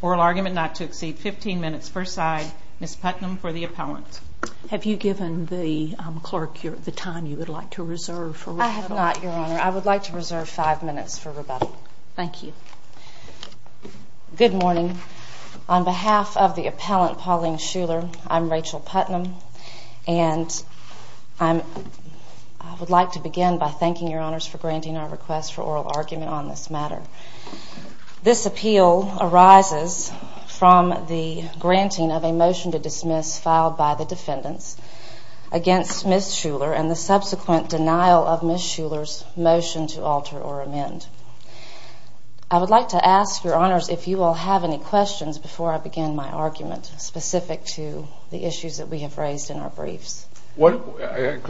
Oral argument not to exceed 15 minutes per side. Ms. Putnam for the appellant. Have you given the clerk the time you would like to reserve for rebuttal? I have not, Your Honor. I would like to reserve 5 minutes for rebuttal. Thank you. Good morning. On behalf of the appellant, Pauline Shuler, I'm Rachel Putnam. And I would like to begin by thanking Your Honors for granting our request for oral argument on this matter. This appeal arises from the granting of a motion to dismiss filed by the defendants against Ms. Shuler and the subsequent denial of Ms. Shuler's motion to alter or amend. I would like to ask Your Honors if you will have any questions before I begin my argument specific to the issues that we have raised in our briefs. Go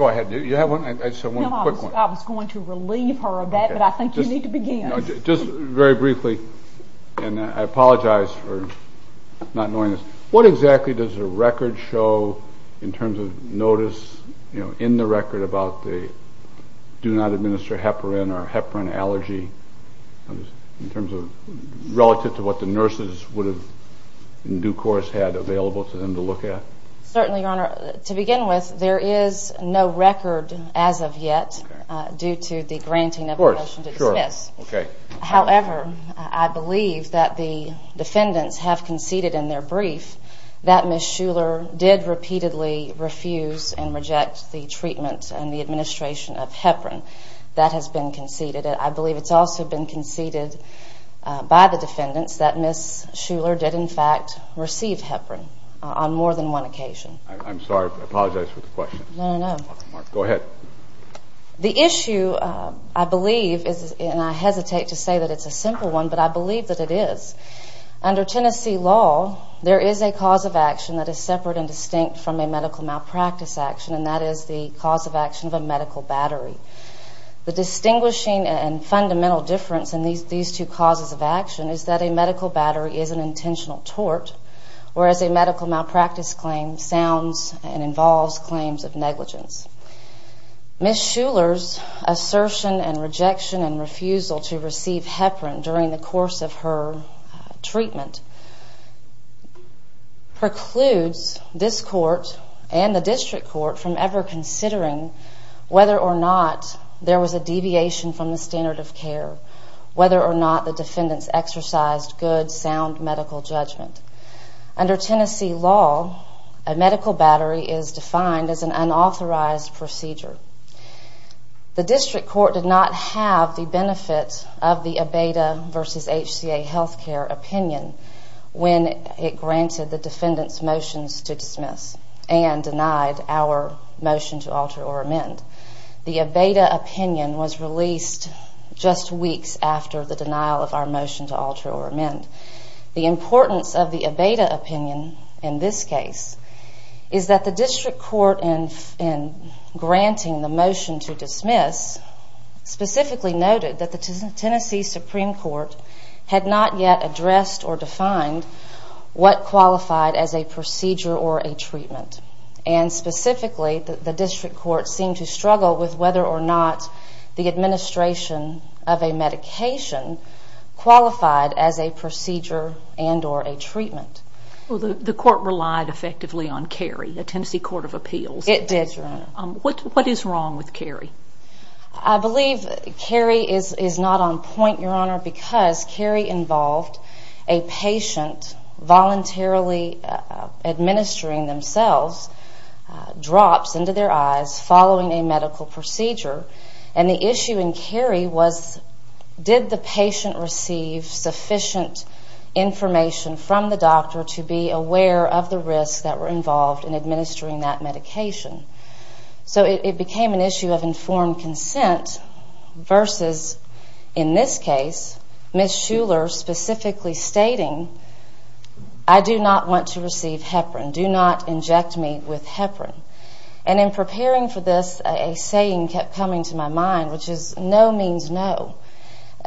ahead. Do you have one? I just have one quick one. I was going to relieve her of that, but I think you need to begin. Just very briefly, and I apologize for not knowing this, what exactly does the record show in terms of notice in the record about the do not administer heparin or heparin allergy in terms of relative to what the nurses would have in due course had available to them to look at? Certainly, Your Honor. To begin with, there is no record as of yet due to the granting of a motion to dismiss. However, I believe that the defendants have conceded in their brief that Ms. Shuler did repeatedly refuse and reject the treatment and the administration of heparin. That has been conceded. I believe it's also been conceded by the defendants that Ms. Shuler did, in fact, receive heparin on more than one occasion. I'm sorry. I apologize for the question. No, no, no. Go ahead. The issue, I believe, and I hesitate to say that it's a simple one, but I believe that it is, under Tennessee law, there is a cause of action that is separate and distinct from a medical malpractice action, and that is the cause of action of a medical battery. The distinguishing and fundamental difference in these two causes of action is that a medical battery is an intentional tort, whereas a medical malpractice claim sounds and involves claims of negligence. Ms. Shuler's assertion and rejection and refusal to receive heparin during the course of her treatment precludes this court and the district court from ever considering whether or not there was a deviation from the standard of care, whether or not the defendants exercised good, sound medical judgment. Under Tennessee law, a medical battery is defined as an unauthorized procedure. The district court did not have the benefit of the ABEDA versus HCA healthcare opinion when it granted the defendants' motions to dismiss and denied our motion to alter or amend. The ABEDA opinion was released just weeks after the denial of our motion to alter or amend. The importance of the ABEDA opinion in this case is that the district court, in granting the motion to dismiss, specifically noted that the Tennessee Supreme Court had not yet addressed or defined what qualified as a procedure or a treatment, and specifically the district court seemed to struggle with whether or not the administration of a medication qualified as a procedure and or a treatment. Well, the court relied effectively on Cary, the Tennessee Court of Appeals. It did, Your Honor. What is wrong with Cary? I believe Cary is not on point, Your Honor, because Cary involved a patient voluntarily administering themselves, drops into their eyes following a medical procedure, and the issue in Cary was did the patient receive sufficient information from the doctor to be aware of the risks that were involved in administering that medication. So it became an issue of informed consent versus, in this case, Ms. Shuler specifically stating, I do not want to receive heparin. Do not inject me with heparin. And in preparing for this, a saying kept coming to my mind, which is no means no.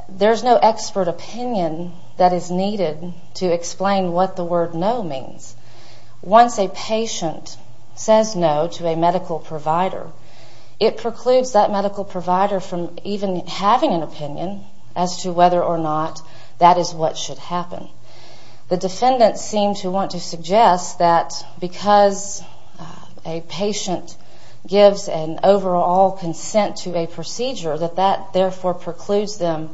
There's no expert opinion that is needed to explain what the word no means. Once a patient says no to a medical provider, it precludes that medical provider from even having an opinion as to whether or not that is what should happen. The defendants seem to want to suggest that because a patient gives an overall consent to a procedure, that that therefore precludes them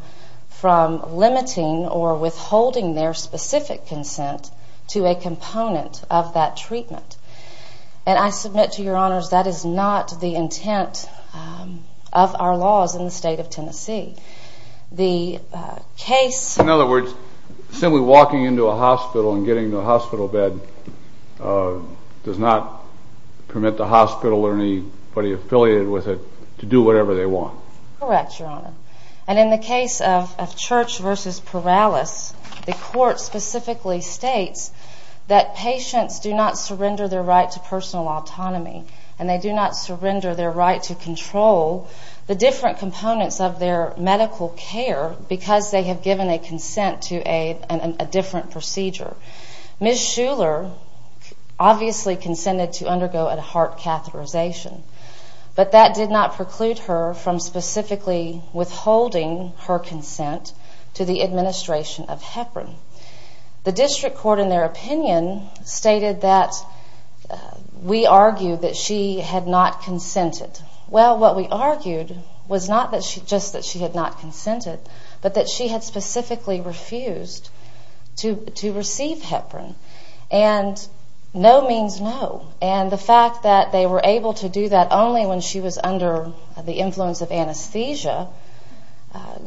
from limiting or withholding their specific consent to a component of that treatment. And I submit to Your Honors, that is not the intent of our laws in the state of Tennessee. The case... In other words, simply walking into a hospital and getting to a hospital bed does not permit the hospital or anybody affiliated with it to do whatever they want. Correct, Your Honor. And in the case of Church versus Perales, the court specifically states that patients do not surrender their right to personal autonomy, and they do not surrender their right to control the different components of their medical care because they have given a consent to a different procedure. Ms. Shuler obviously consented to undergo a heart catheterization, but that did not preclude her from specifically withholding her consent to the administration of Heparin. The district court, in their opinion, stated that we argued that she had not consented. Well, what we argued was not just that she had not consented, but that she had specifically refused to receive Heparin. And no means no. And the fact that they were able to do that only when she was under the influence of anesthesia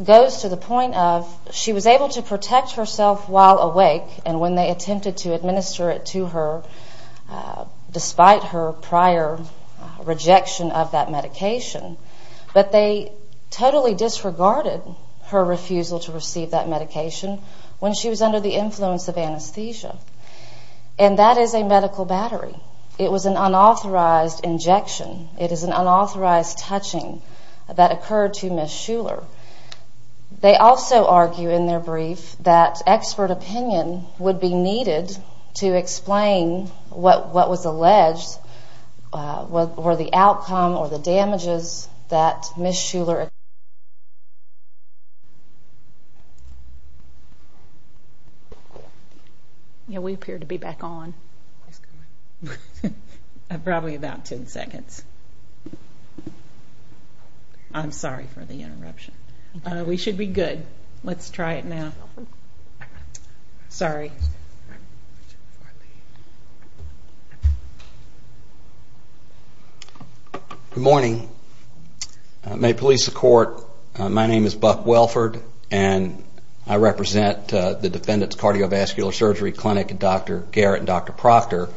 goes to the point of she was able to protect herself while awake and when they attempted to administer it to her despite her prior rejection of that medication. But they totally disregarded her refusal to receive that medication when she was under the influence of anesthesia. And that is a medical battery. It was an unauthorized injection. It is an unauthorized touching that occurred to Ms. Shuler. They also argue in their brief that expert opinion would be needed to explain what was alleged or the outcome or the damages that Ms. Shuler experienced. Yeah, we appear to be back on. Probably about ten seconds. I'm sorry for the interruption. We should be good. Let's try it now. Sorry. Good morning. May it please the court, my name is Buck Welford and I represent the Defendant's Cardiovascular Surgery Clinic, Dr. Garrett and Dr. Proctor.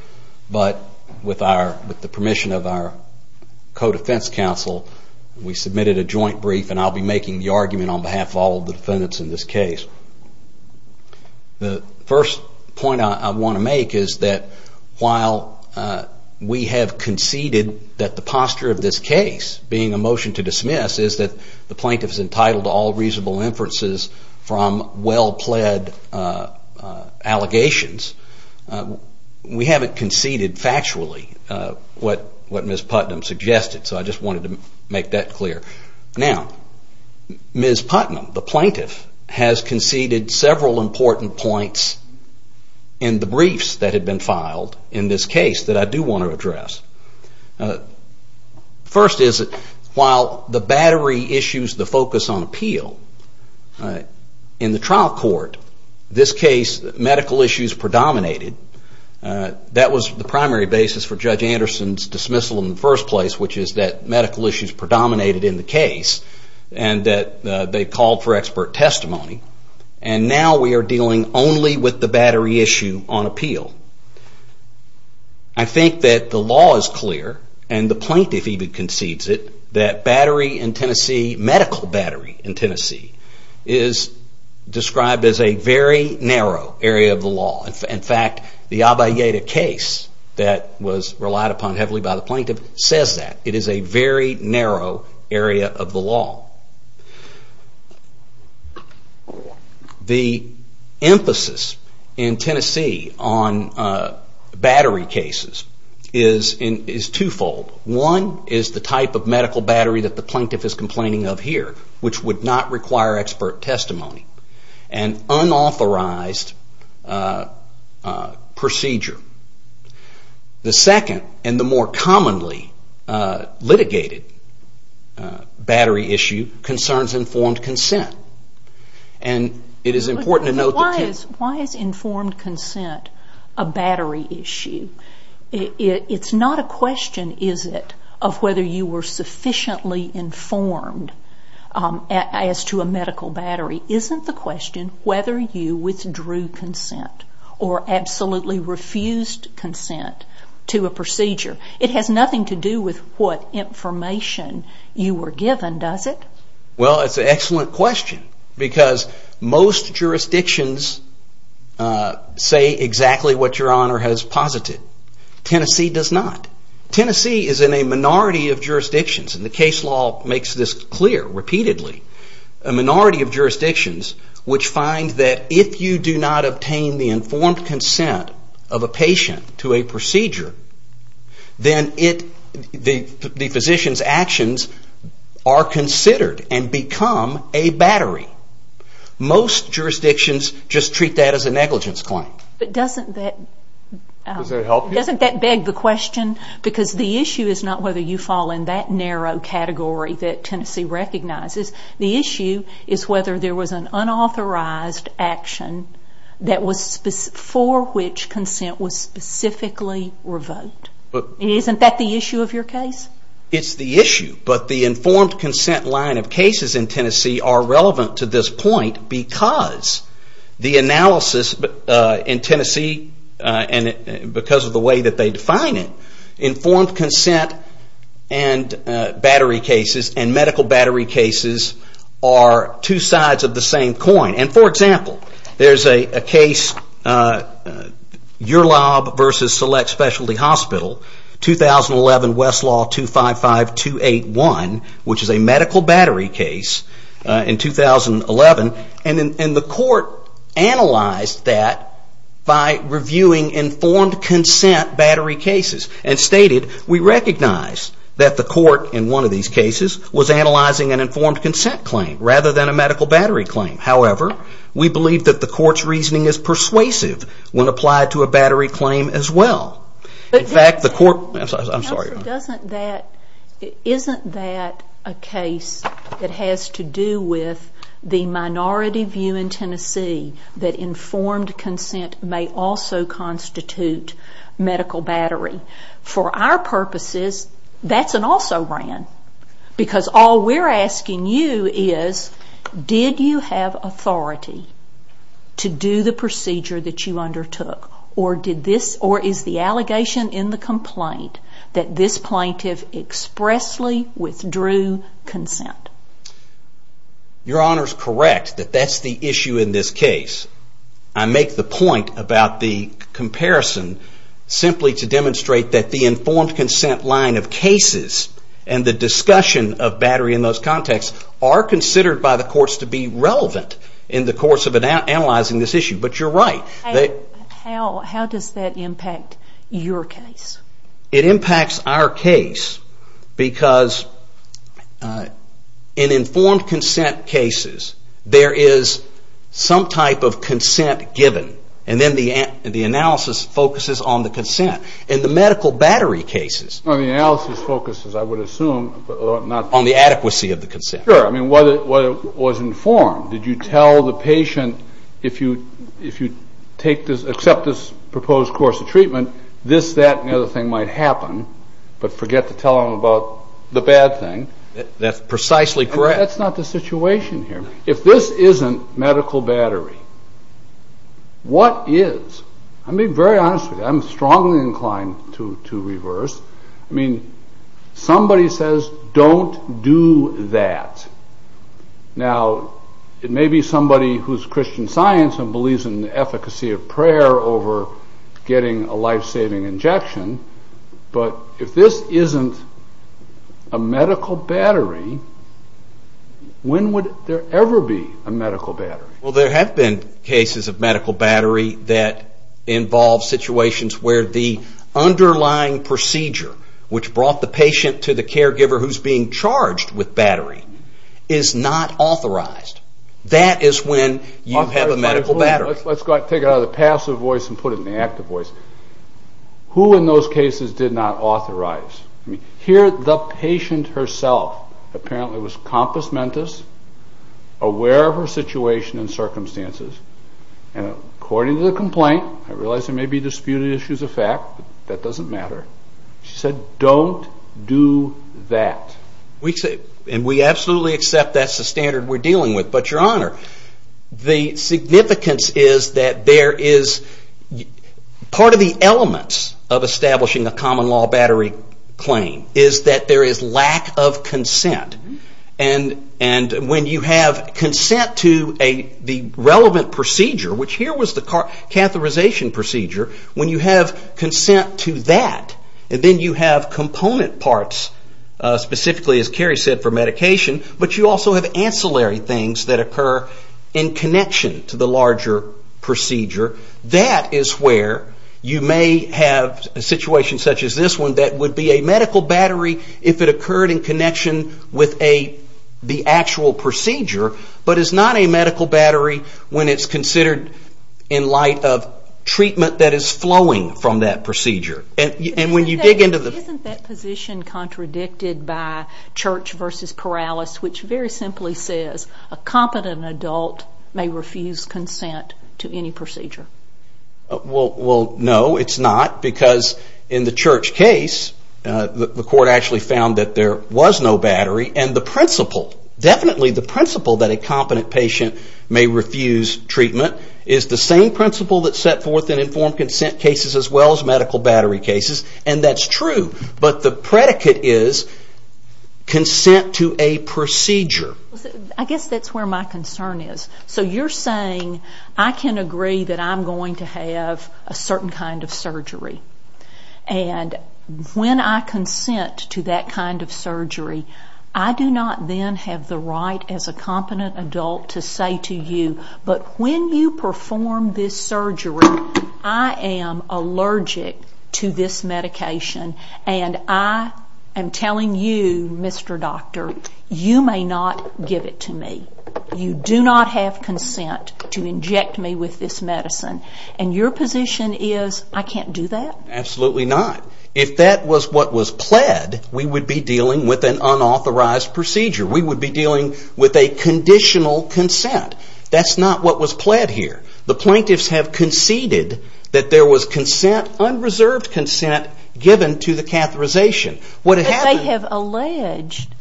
But with the permission of our co-defense counsel, we submitted a joint brief and I'll be making the argument on behalf of all the defendants in this case. The first point I want to make is that while we have conceded that the posture of this case being a motion to dismiss is that the plaintiff is entitled to all reasonable inferences from well-pled allegations, we haven't conceded factually what Ms. Putnam suggested. So I just wanted to make that clear. Now, Ms. Putnam, the plaintiff, has conceded several important points in the briefs that have been filed in this case that I do want to address. First is that while the battery issues the focus on appeal, in the trial court, this case medical issues predominated. That was the primary basis for Judge Anderson's dismissal in the first place, which is that medical issues predominated in the case and that they called for expert testimony. And now we are dealing only with the battery issue on appeal. I think that the law is clear and the plaintiff even concedes it that medical battery in Tennessee is described as a very narrow area of the law. In fact, the Abayeda case that was relied upon heavily by the plaintiff says that. It is a very narrow area of the law. The emphasis in Tennessee on battery cases is twofold. One is the type of medical battery that the plaintiff is complaining of here, which would not require expert testimony. An unauthorized procedure. The second and the more commonly litigated battery issue concerns informed consent. Why is informed consent a battery issue? It is not a question, is it, of whether you were sufficiently informed as to a medical battery. It is not a question of whether you withdrew consent or absolutely refused consent to a procedure. It has nothing to do with what information you were given, does it? Well, it is an excellent question because most jurisdictions say exactly what Your Honor has posited. Tennessee does not. Tennessee is in a minority of jurisdictions and the case law makes this clear repeatedly. A minority of jurisdictions which find that if you do not obtain the informed consent of a patient to a procedure, then the physician's actions are considered and become a battery. Most jurisdictions just treat that as a negligence claim. But doesn't that beg the question? Because the issue is not whether you fall in that narrow category that Tennessee recognizes. The issue is whether there was an unauthorized action for which consent was specifically revoked. Isn't that the issue of your case? It is the issue, but the informed consent line of cases in Tennessee are relevant to this point because the analysis in Tennessee, because of the way that they define it, informed consent and medical battery cases are two sides of the same coin. For example, there is a case, Your Lob vs. Select Specialty Hospital, 2011 Westlaw 255281, which is a medical battery case in 2011, and the court analyzed that by reviewing informed consent battery cases and stated we recognize that the court in one of these cases was analyzing an informed consent claim rather than a medical battery claim. However, we believe that the court's reasoning is persuasive when applied to a battery claim as well. I'm sorry. Isn't that a case that has to do with the minority view in Tennessee that informed consent may also constitute medical battery? For our purposes, that's an also-ran. Because all we're asking you is did you have authority to do the procedure that you undertook or is the allegation in the complaint that this plaintiff expressly withdrew consent? Your Honor is correct that that's the issue in this case. I make the point about the comparison simply to demonstrate that the informed consent line of cases and the discussion of battery in those contexts are considered by the courts to be relevant in the course of analyzing this issue, but you're right. How does that impact your case? It impacts our case because in informed consent cases, there is some type of consent given and then the analysis focuses on the consent. In the medical battery cases... The analysis focuses, I would assume... On the adequacy of the consent. Sure. What was informed? Did you tell the patient if you accept this proposed course of treatment, this, that, and the other thing might happen, but forget to tell them about the bad thing? That's precisely correct. That's not the situation here. If this isn't medical battery, what is? I'll be very honest with you. I'm strongly inclined to reverse. Somebody says, don't do that. Now, it may be somebody who's Christian Science and believes in the efficacy of prayer over getting a life-saving injection, but if this isn't a medical battery, when would there ever be a medical battery? Well, there have been cases of medical battery that involve situations where the underlying procedure, which brought the patient to the caregiver who's being charged with battery, is not authorized. That is when you have a medical battery. Let's take it out of the passive voice and put it in the active voice. Who in those cases did not authorize? Here, the patient herself apparently was compus mentis, aware of her situation and circumstances, and according to the complaint, I realize there may be disputed issues of fact, but that doesn't matter. She said, don't do that. We absolutely accept that's the standard we're dealing with, but, Your Honor, the significance is that part of the elements of establishing a common law battery claim is that there is lack of consent. When you have consent to the relevant procedure, which here was the catheterization procedure, when you have consent to that, then you have component parts, specifically, as Carrie said, for medication, but you also have ancillary things that occur in connection to the larger procedure. That is where you may have a situation such as this one that would be a medical battery if it occurred in connection with the actual procedure, but is not a medical battery when it's considered in light of treatment that is flowing from that procedure. Isn't that position contradicted by Church v. Corrales, which very simply says a competent adult may refuse consent to any procedure? Well, no, it's not, because in the Church case, the court actually found that there was no battery, and the principle, definitely the principle that a competent patient may refuse treatment is the same principle that's set forth in informed consent cases as well as medical battery cases, and that's true, but the predicate is consent to a procedure. I guess that's where my concern is. So you're saying I can agree that I'm going to have a certain kind of surgery, and when I consent to that kind of surgery, I do not then have the right as a competent adult to say to you, but when you perform this surgery, I am allergic to this medication, and I am telling you, Mr. Doctor, you may not give it to me. You do not have consent to inject me with this medicine, and your position is I can't do that? Absolutely not. If that was what was pled, we would be dealing with an unauthorized procedure. We would be dealing with a conditional consent. That's not what was pled here. The plaintiffs have conceded that there was consent, unreserved consent given to the catheterization. They have alleged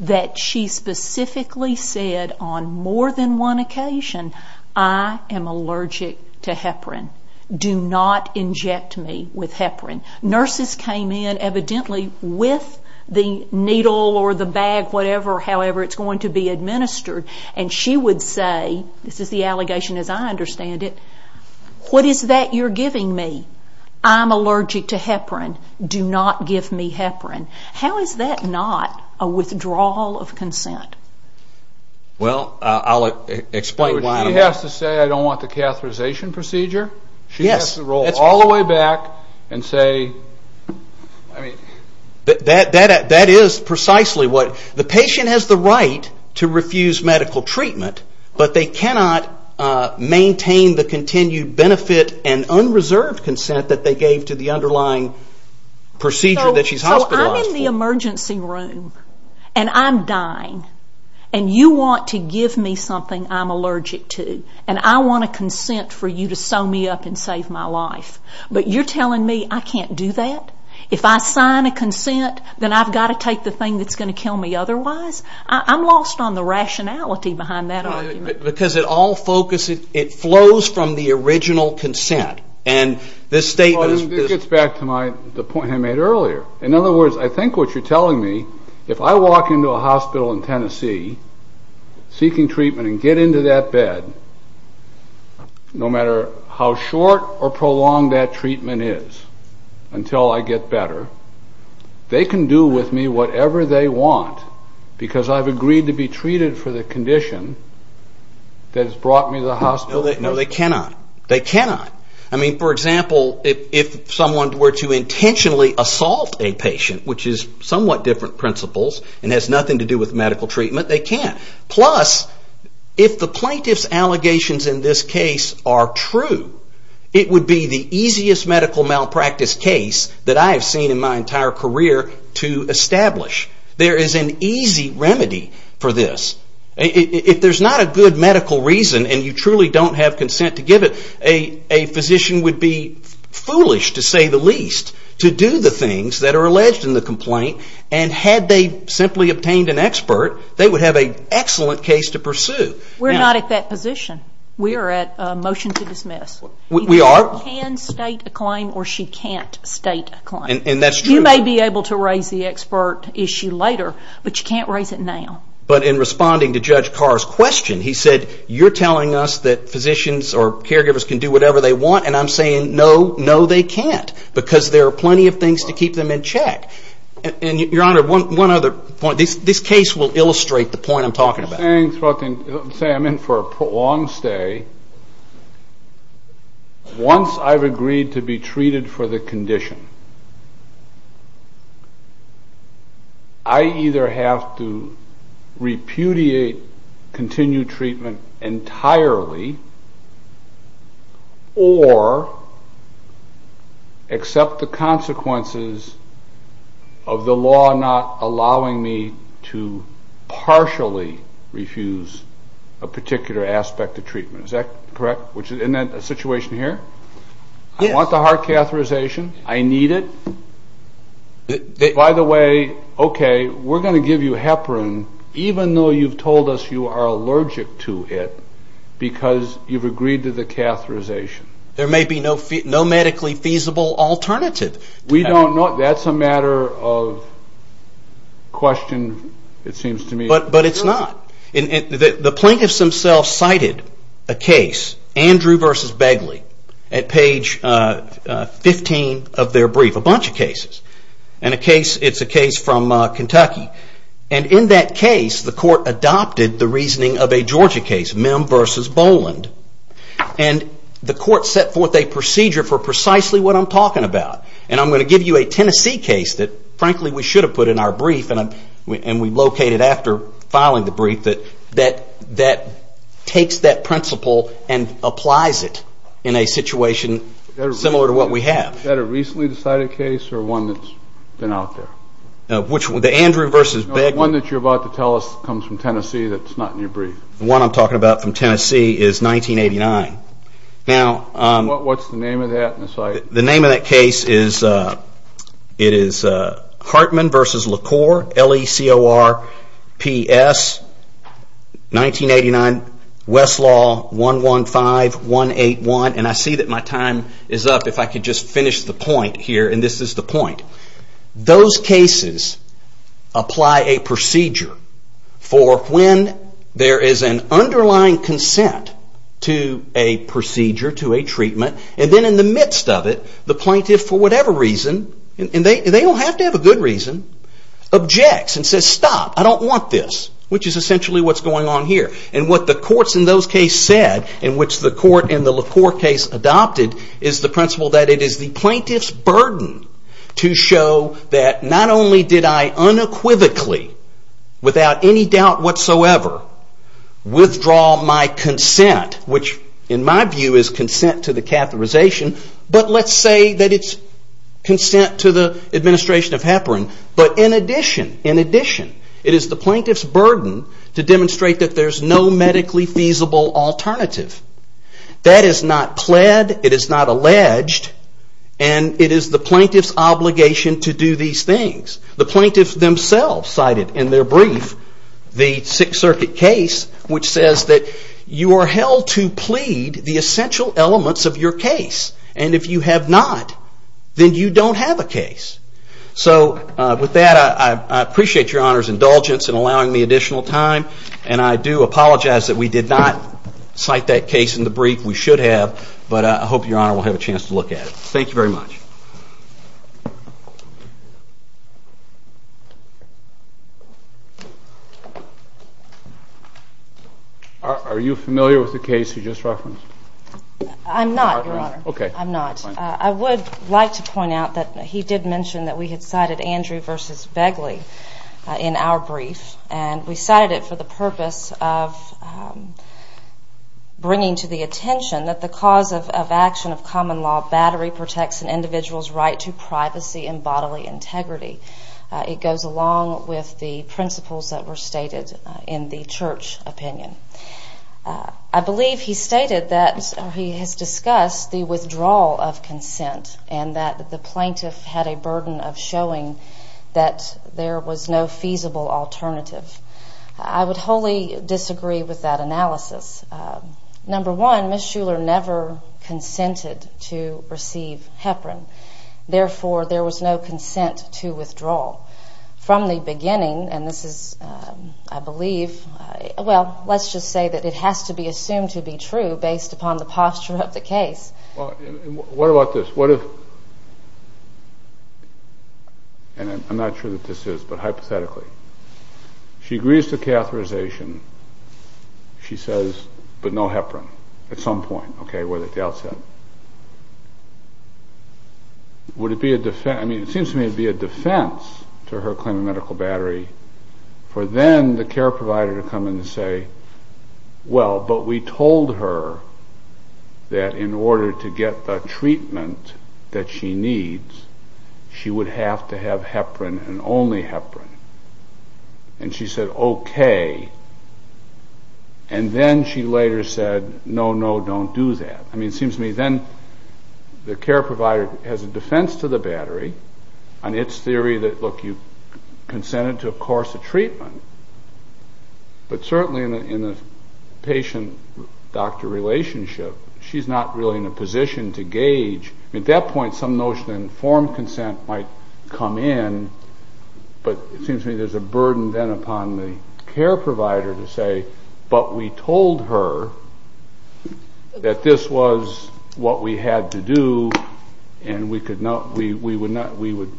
that she specifically said on more than one occasion, I am allergic to heparin. Do not inject me with heparin. Nurses came in evidently with the needle or the bag, whatever, however it's going to be administered, and she would say, this is the allegation as I understand it, what is that you're giving me? I'm allergic to heparin. Do not give me heparin. How is that not a withdrawal of consent? Well, I'll explain why. She has to say I don't want the catheterization procedure? Yes. She has to roll all the way back and say, I mean. That is precisely what. The patient has the right to refuse medical treatment, but they cannot maintain the continued benefit and unreserved consent that they gave to the underlying procedure that she's hospitalized for. So I'm in the emergency room, and I'm dying, and you want to give me something I'm allergic to, and I want a consent for you to sew me up and save my life, but you're telling me I can't do that? If I sign a consent, then I've got to take the thing that's going to kill me otherwise? I'm lost on the rationality behind that argument. Because it all flows from the original consent, and this statement is... This gets back to the point I made earlier. In other words, I think what you're telling me, if I walk into a hospital in Tennessee seeking treatment and get into that bed, no matter how short or prolonged that treatment is until I get better, they can do with me whatever they want because I've agreed to be treated for the condition that has brought me to the hospital. No, they cannot. They cannot. I mean, for example, if someone were to intentionally assault a patient, which is somewhat different principles and has nothing to do with medical treatment, they can't. Plus, if the plaintiff's allegations in this case are true, it would be the easiest medical malpractice case that I have seen in my entire career to establish. There is an easy remedy for this. If there's not a good medical reason and you truly don't have consent to give it, a physician would be foolish, to say the least, to do the things that are alleged in the complaint, and had they simply obtained an expert, they would have an excellent case to pursue. We're not at that position. We are at a motion to dismiss. We are. You can state a claim or she can't state a claim. And that's true. You may be able to raise the expert issue later, but you can't raise it now. But in responding to Judge Carr's question, he said, you're telling us that physicians or caregivers can do whatever they want, and I'm saying no, no, they can't, because there are plenty of things to keep them in check. And, Your Honor, one other point. This case will illustrate the point I'm talking about. I'm saying I'm in for a prolonged stay once I've agreed to be treated for the condition. I either have to repudiate continued treatment entirely, or accept the consequences of the law not allowing me to partially refuse a particular aspect of treatment. Is that correct? Isn't that the situation here? I want the heart catheterization. I need it. By the way, okay, we're going to give you heparin even though you've told us you are allergic to it because you've agreed to the catheterization. There may be no medically feasible alternative. We don't know. That's a matter of question, it seems to me. But it's not. The plaintiffs themselves cited a case, Andrew v. Begley, at page 15 of their brief. A bunch of cases. It's a case from Kentucky. And in that case, the court adopted the reasoning of a Georgia case, Mim v. Boland. And the court set forth a procedure for precisely what I'm talking about. And I'm going to give you a Tennessee case that, frankly, we should have put in our brief and we locate it after filing the brief, that takes that principle and applies it in a situation similar to what we have. Is that a recently decided case or one that's been out there? The Andrew v. Begley. No, the one that you're about to tell us comes from Tennessee that's not in your brief. The one I'm talking about from Tennessee is 1989. What's the name of that? The name of that case is Hartman v. LaCour. L-E-C-O-R-P-S. 1989. Westlaw 115181. And I see that my time is up. If I could just finish the point here. And this is the point. Those cases apply a procedure for when there is an underlying consent to a procedure, to a treatment. And then in the midst of it, the plaintiff, for whatever reason, and they don't have to have a good reason, objects and says, stop, I don't want this, which is essentially what's going on here. And what the courts in those cases said, in which the court in the LaCour case adopted, is the principle that it is the plaintiff's burden to show that not only did I unequivocally, without any doubt whatsoever, withdraw my consent, which in my view is consent to the catheterization, but let's say that it's consent to the administration of heparin. But in addition, it is the plaintiff's burden to demonstrate that there's no medically feasible alternative. That is not pled, it is not alleged, and it is the plaintiff's obligation to do these things. The plaintiff themselves cited in their brief the Sixth Circuit case, which says that you are held to plead the essential elements of your case, and if you have not, then you don't have a case. So with that, I appreciate your Honor's indulgence in allowing me additional time, and I do apologize that we did not cite that case in the brief. We should have, but I hope your Honor will have a chance to look at it. Thank you very much. Are you familiar with the case you just referenced? I'm not, your Honor. Okay. I'm not. I would like to point out that he did mention that we had cited Andrew v. Begley in our brief, and we cited it for the purpose of bringing to the attention that the cause of action of common law battery protects an individual's right to privacy and bodily integrity. It goes along with the principles that were stated in the Church opinion. I believe he stated that he has discussed the withdrawal of consent and that the plaintiff had a burden of showing that there was no feasible alternative. I would wholly disagree with that analysis. Number one, Ms. Shuler never consented to receive heparin. Therefore, there was no consent to withdrawal. From the beginning, and this is, I believe, well, let's just say that it has to be assumed to be true based upon the posture of the case. What about this? I'm not sure that this is, but hypothetically, she agrees to catheterization, she says, but no heparin at some point, okay, whether at the outset. It seems to me it would be a defense to her claim of medical battery for then the care provider to come in and say, well, but we told her that in order to get the treatment that she needs, she would have to have heparin and only heparin. And she said, okay. And then she later said, no, no, don't do that. I mean, it seems to me then the care provider has a defense to the battery on its theory that, look, you consented to, of course, a treatment. But certainly in a patient-doctor relationship, she's not really in a position to gauge. At that point, some notion of informed consent might come in, but it seems to me there's a burden then upon the care provider to say, but we told her that this was what we had to do and we would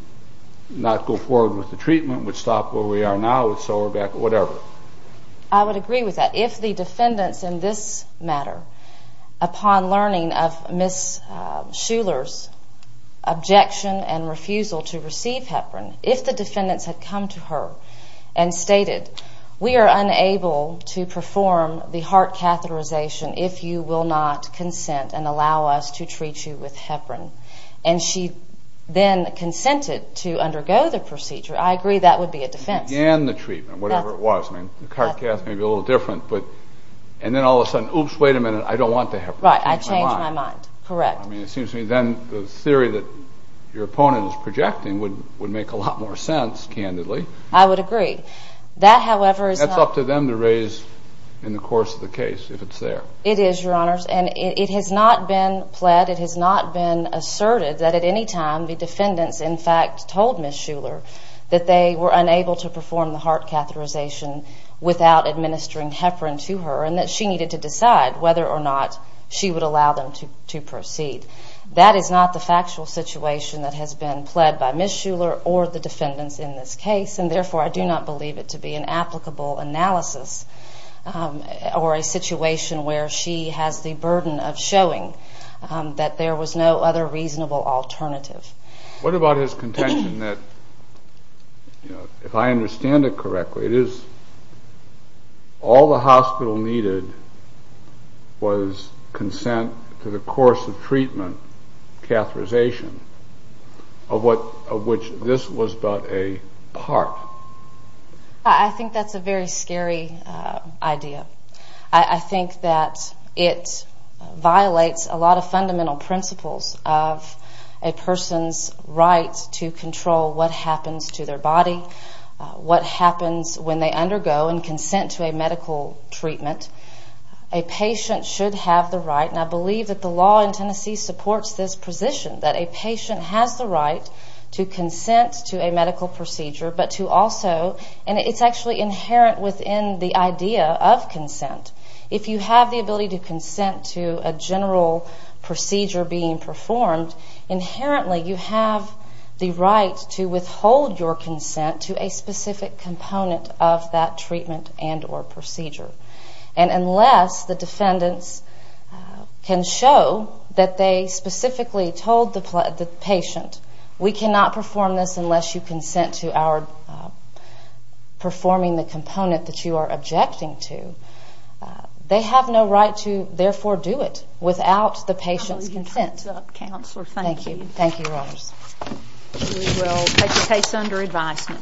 not go forward with the treatment, would stop where we are now, would sell her back, whatever. I would agree with that. If the defendants in this matter, upon learning of Ms. Shuler's objection and refusal to receive heparin, if the defendants had come to her and stated, we are unable to perform the heart catheterization if you will not consent and allow us to treat you with heparin. And she then consented to undergo the procedure. I agree that would be a defense. Began the treatment, whatever it was. I mean, the heart cath may be a little different. And then all of a sudden, oops, wait a minute, I don't want the heparin. Right, I changed my mind. Correct. I mean, it seems to me then the theory that your opponent is projecting would make a lot more sense, candidly. I would agree. That, however, is not... That's up to them to raise in the course of the case, if it's there. It is, Your Honors. And it has not been pled. It has not been asserted that at any time the defendants in fact told Ms. Shuler that they were unable to perform the heart catheterization without administering heparin to her and that she needed to decide whether or not she would allow them to proceed. That is not the factual situation that has been pled by Ms. Shuler or the defendants in this case. And therefore, I do not believe it to be an applicable analysis or a situation where she has the burden of showing that there was no other reasonable alternative. What about his contention that, if I understand it correctly, it is all the hospital needed was consent to the course of treatment, catheterization, of which this was but a part? I think that's a very scary idea. I think that it violates a lot of fundamental principles of a person's right to control what happens to their body, what happens when they undergo and consent to a medical treatment. A patient should have the right, and I believe that the law in Tennessee supports this position, that a patient has the right to consent to a medical procedure, but to also... And it's actually inherent within the idea of consent. If you have the ability to consent to a general procedure being performed, inherently you have the right to withhold your consent to a specific component of that treatment and or procedure. And unless the defendants can show that they specifically told the patient, we cannot perform this unless you consent to our performing the component that you are objecting to, they have no right to therefore do it without the patient's consent. Thank you. Thank you, Your Honors. We will take the case under advisement.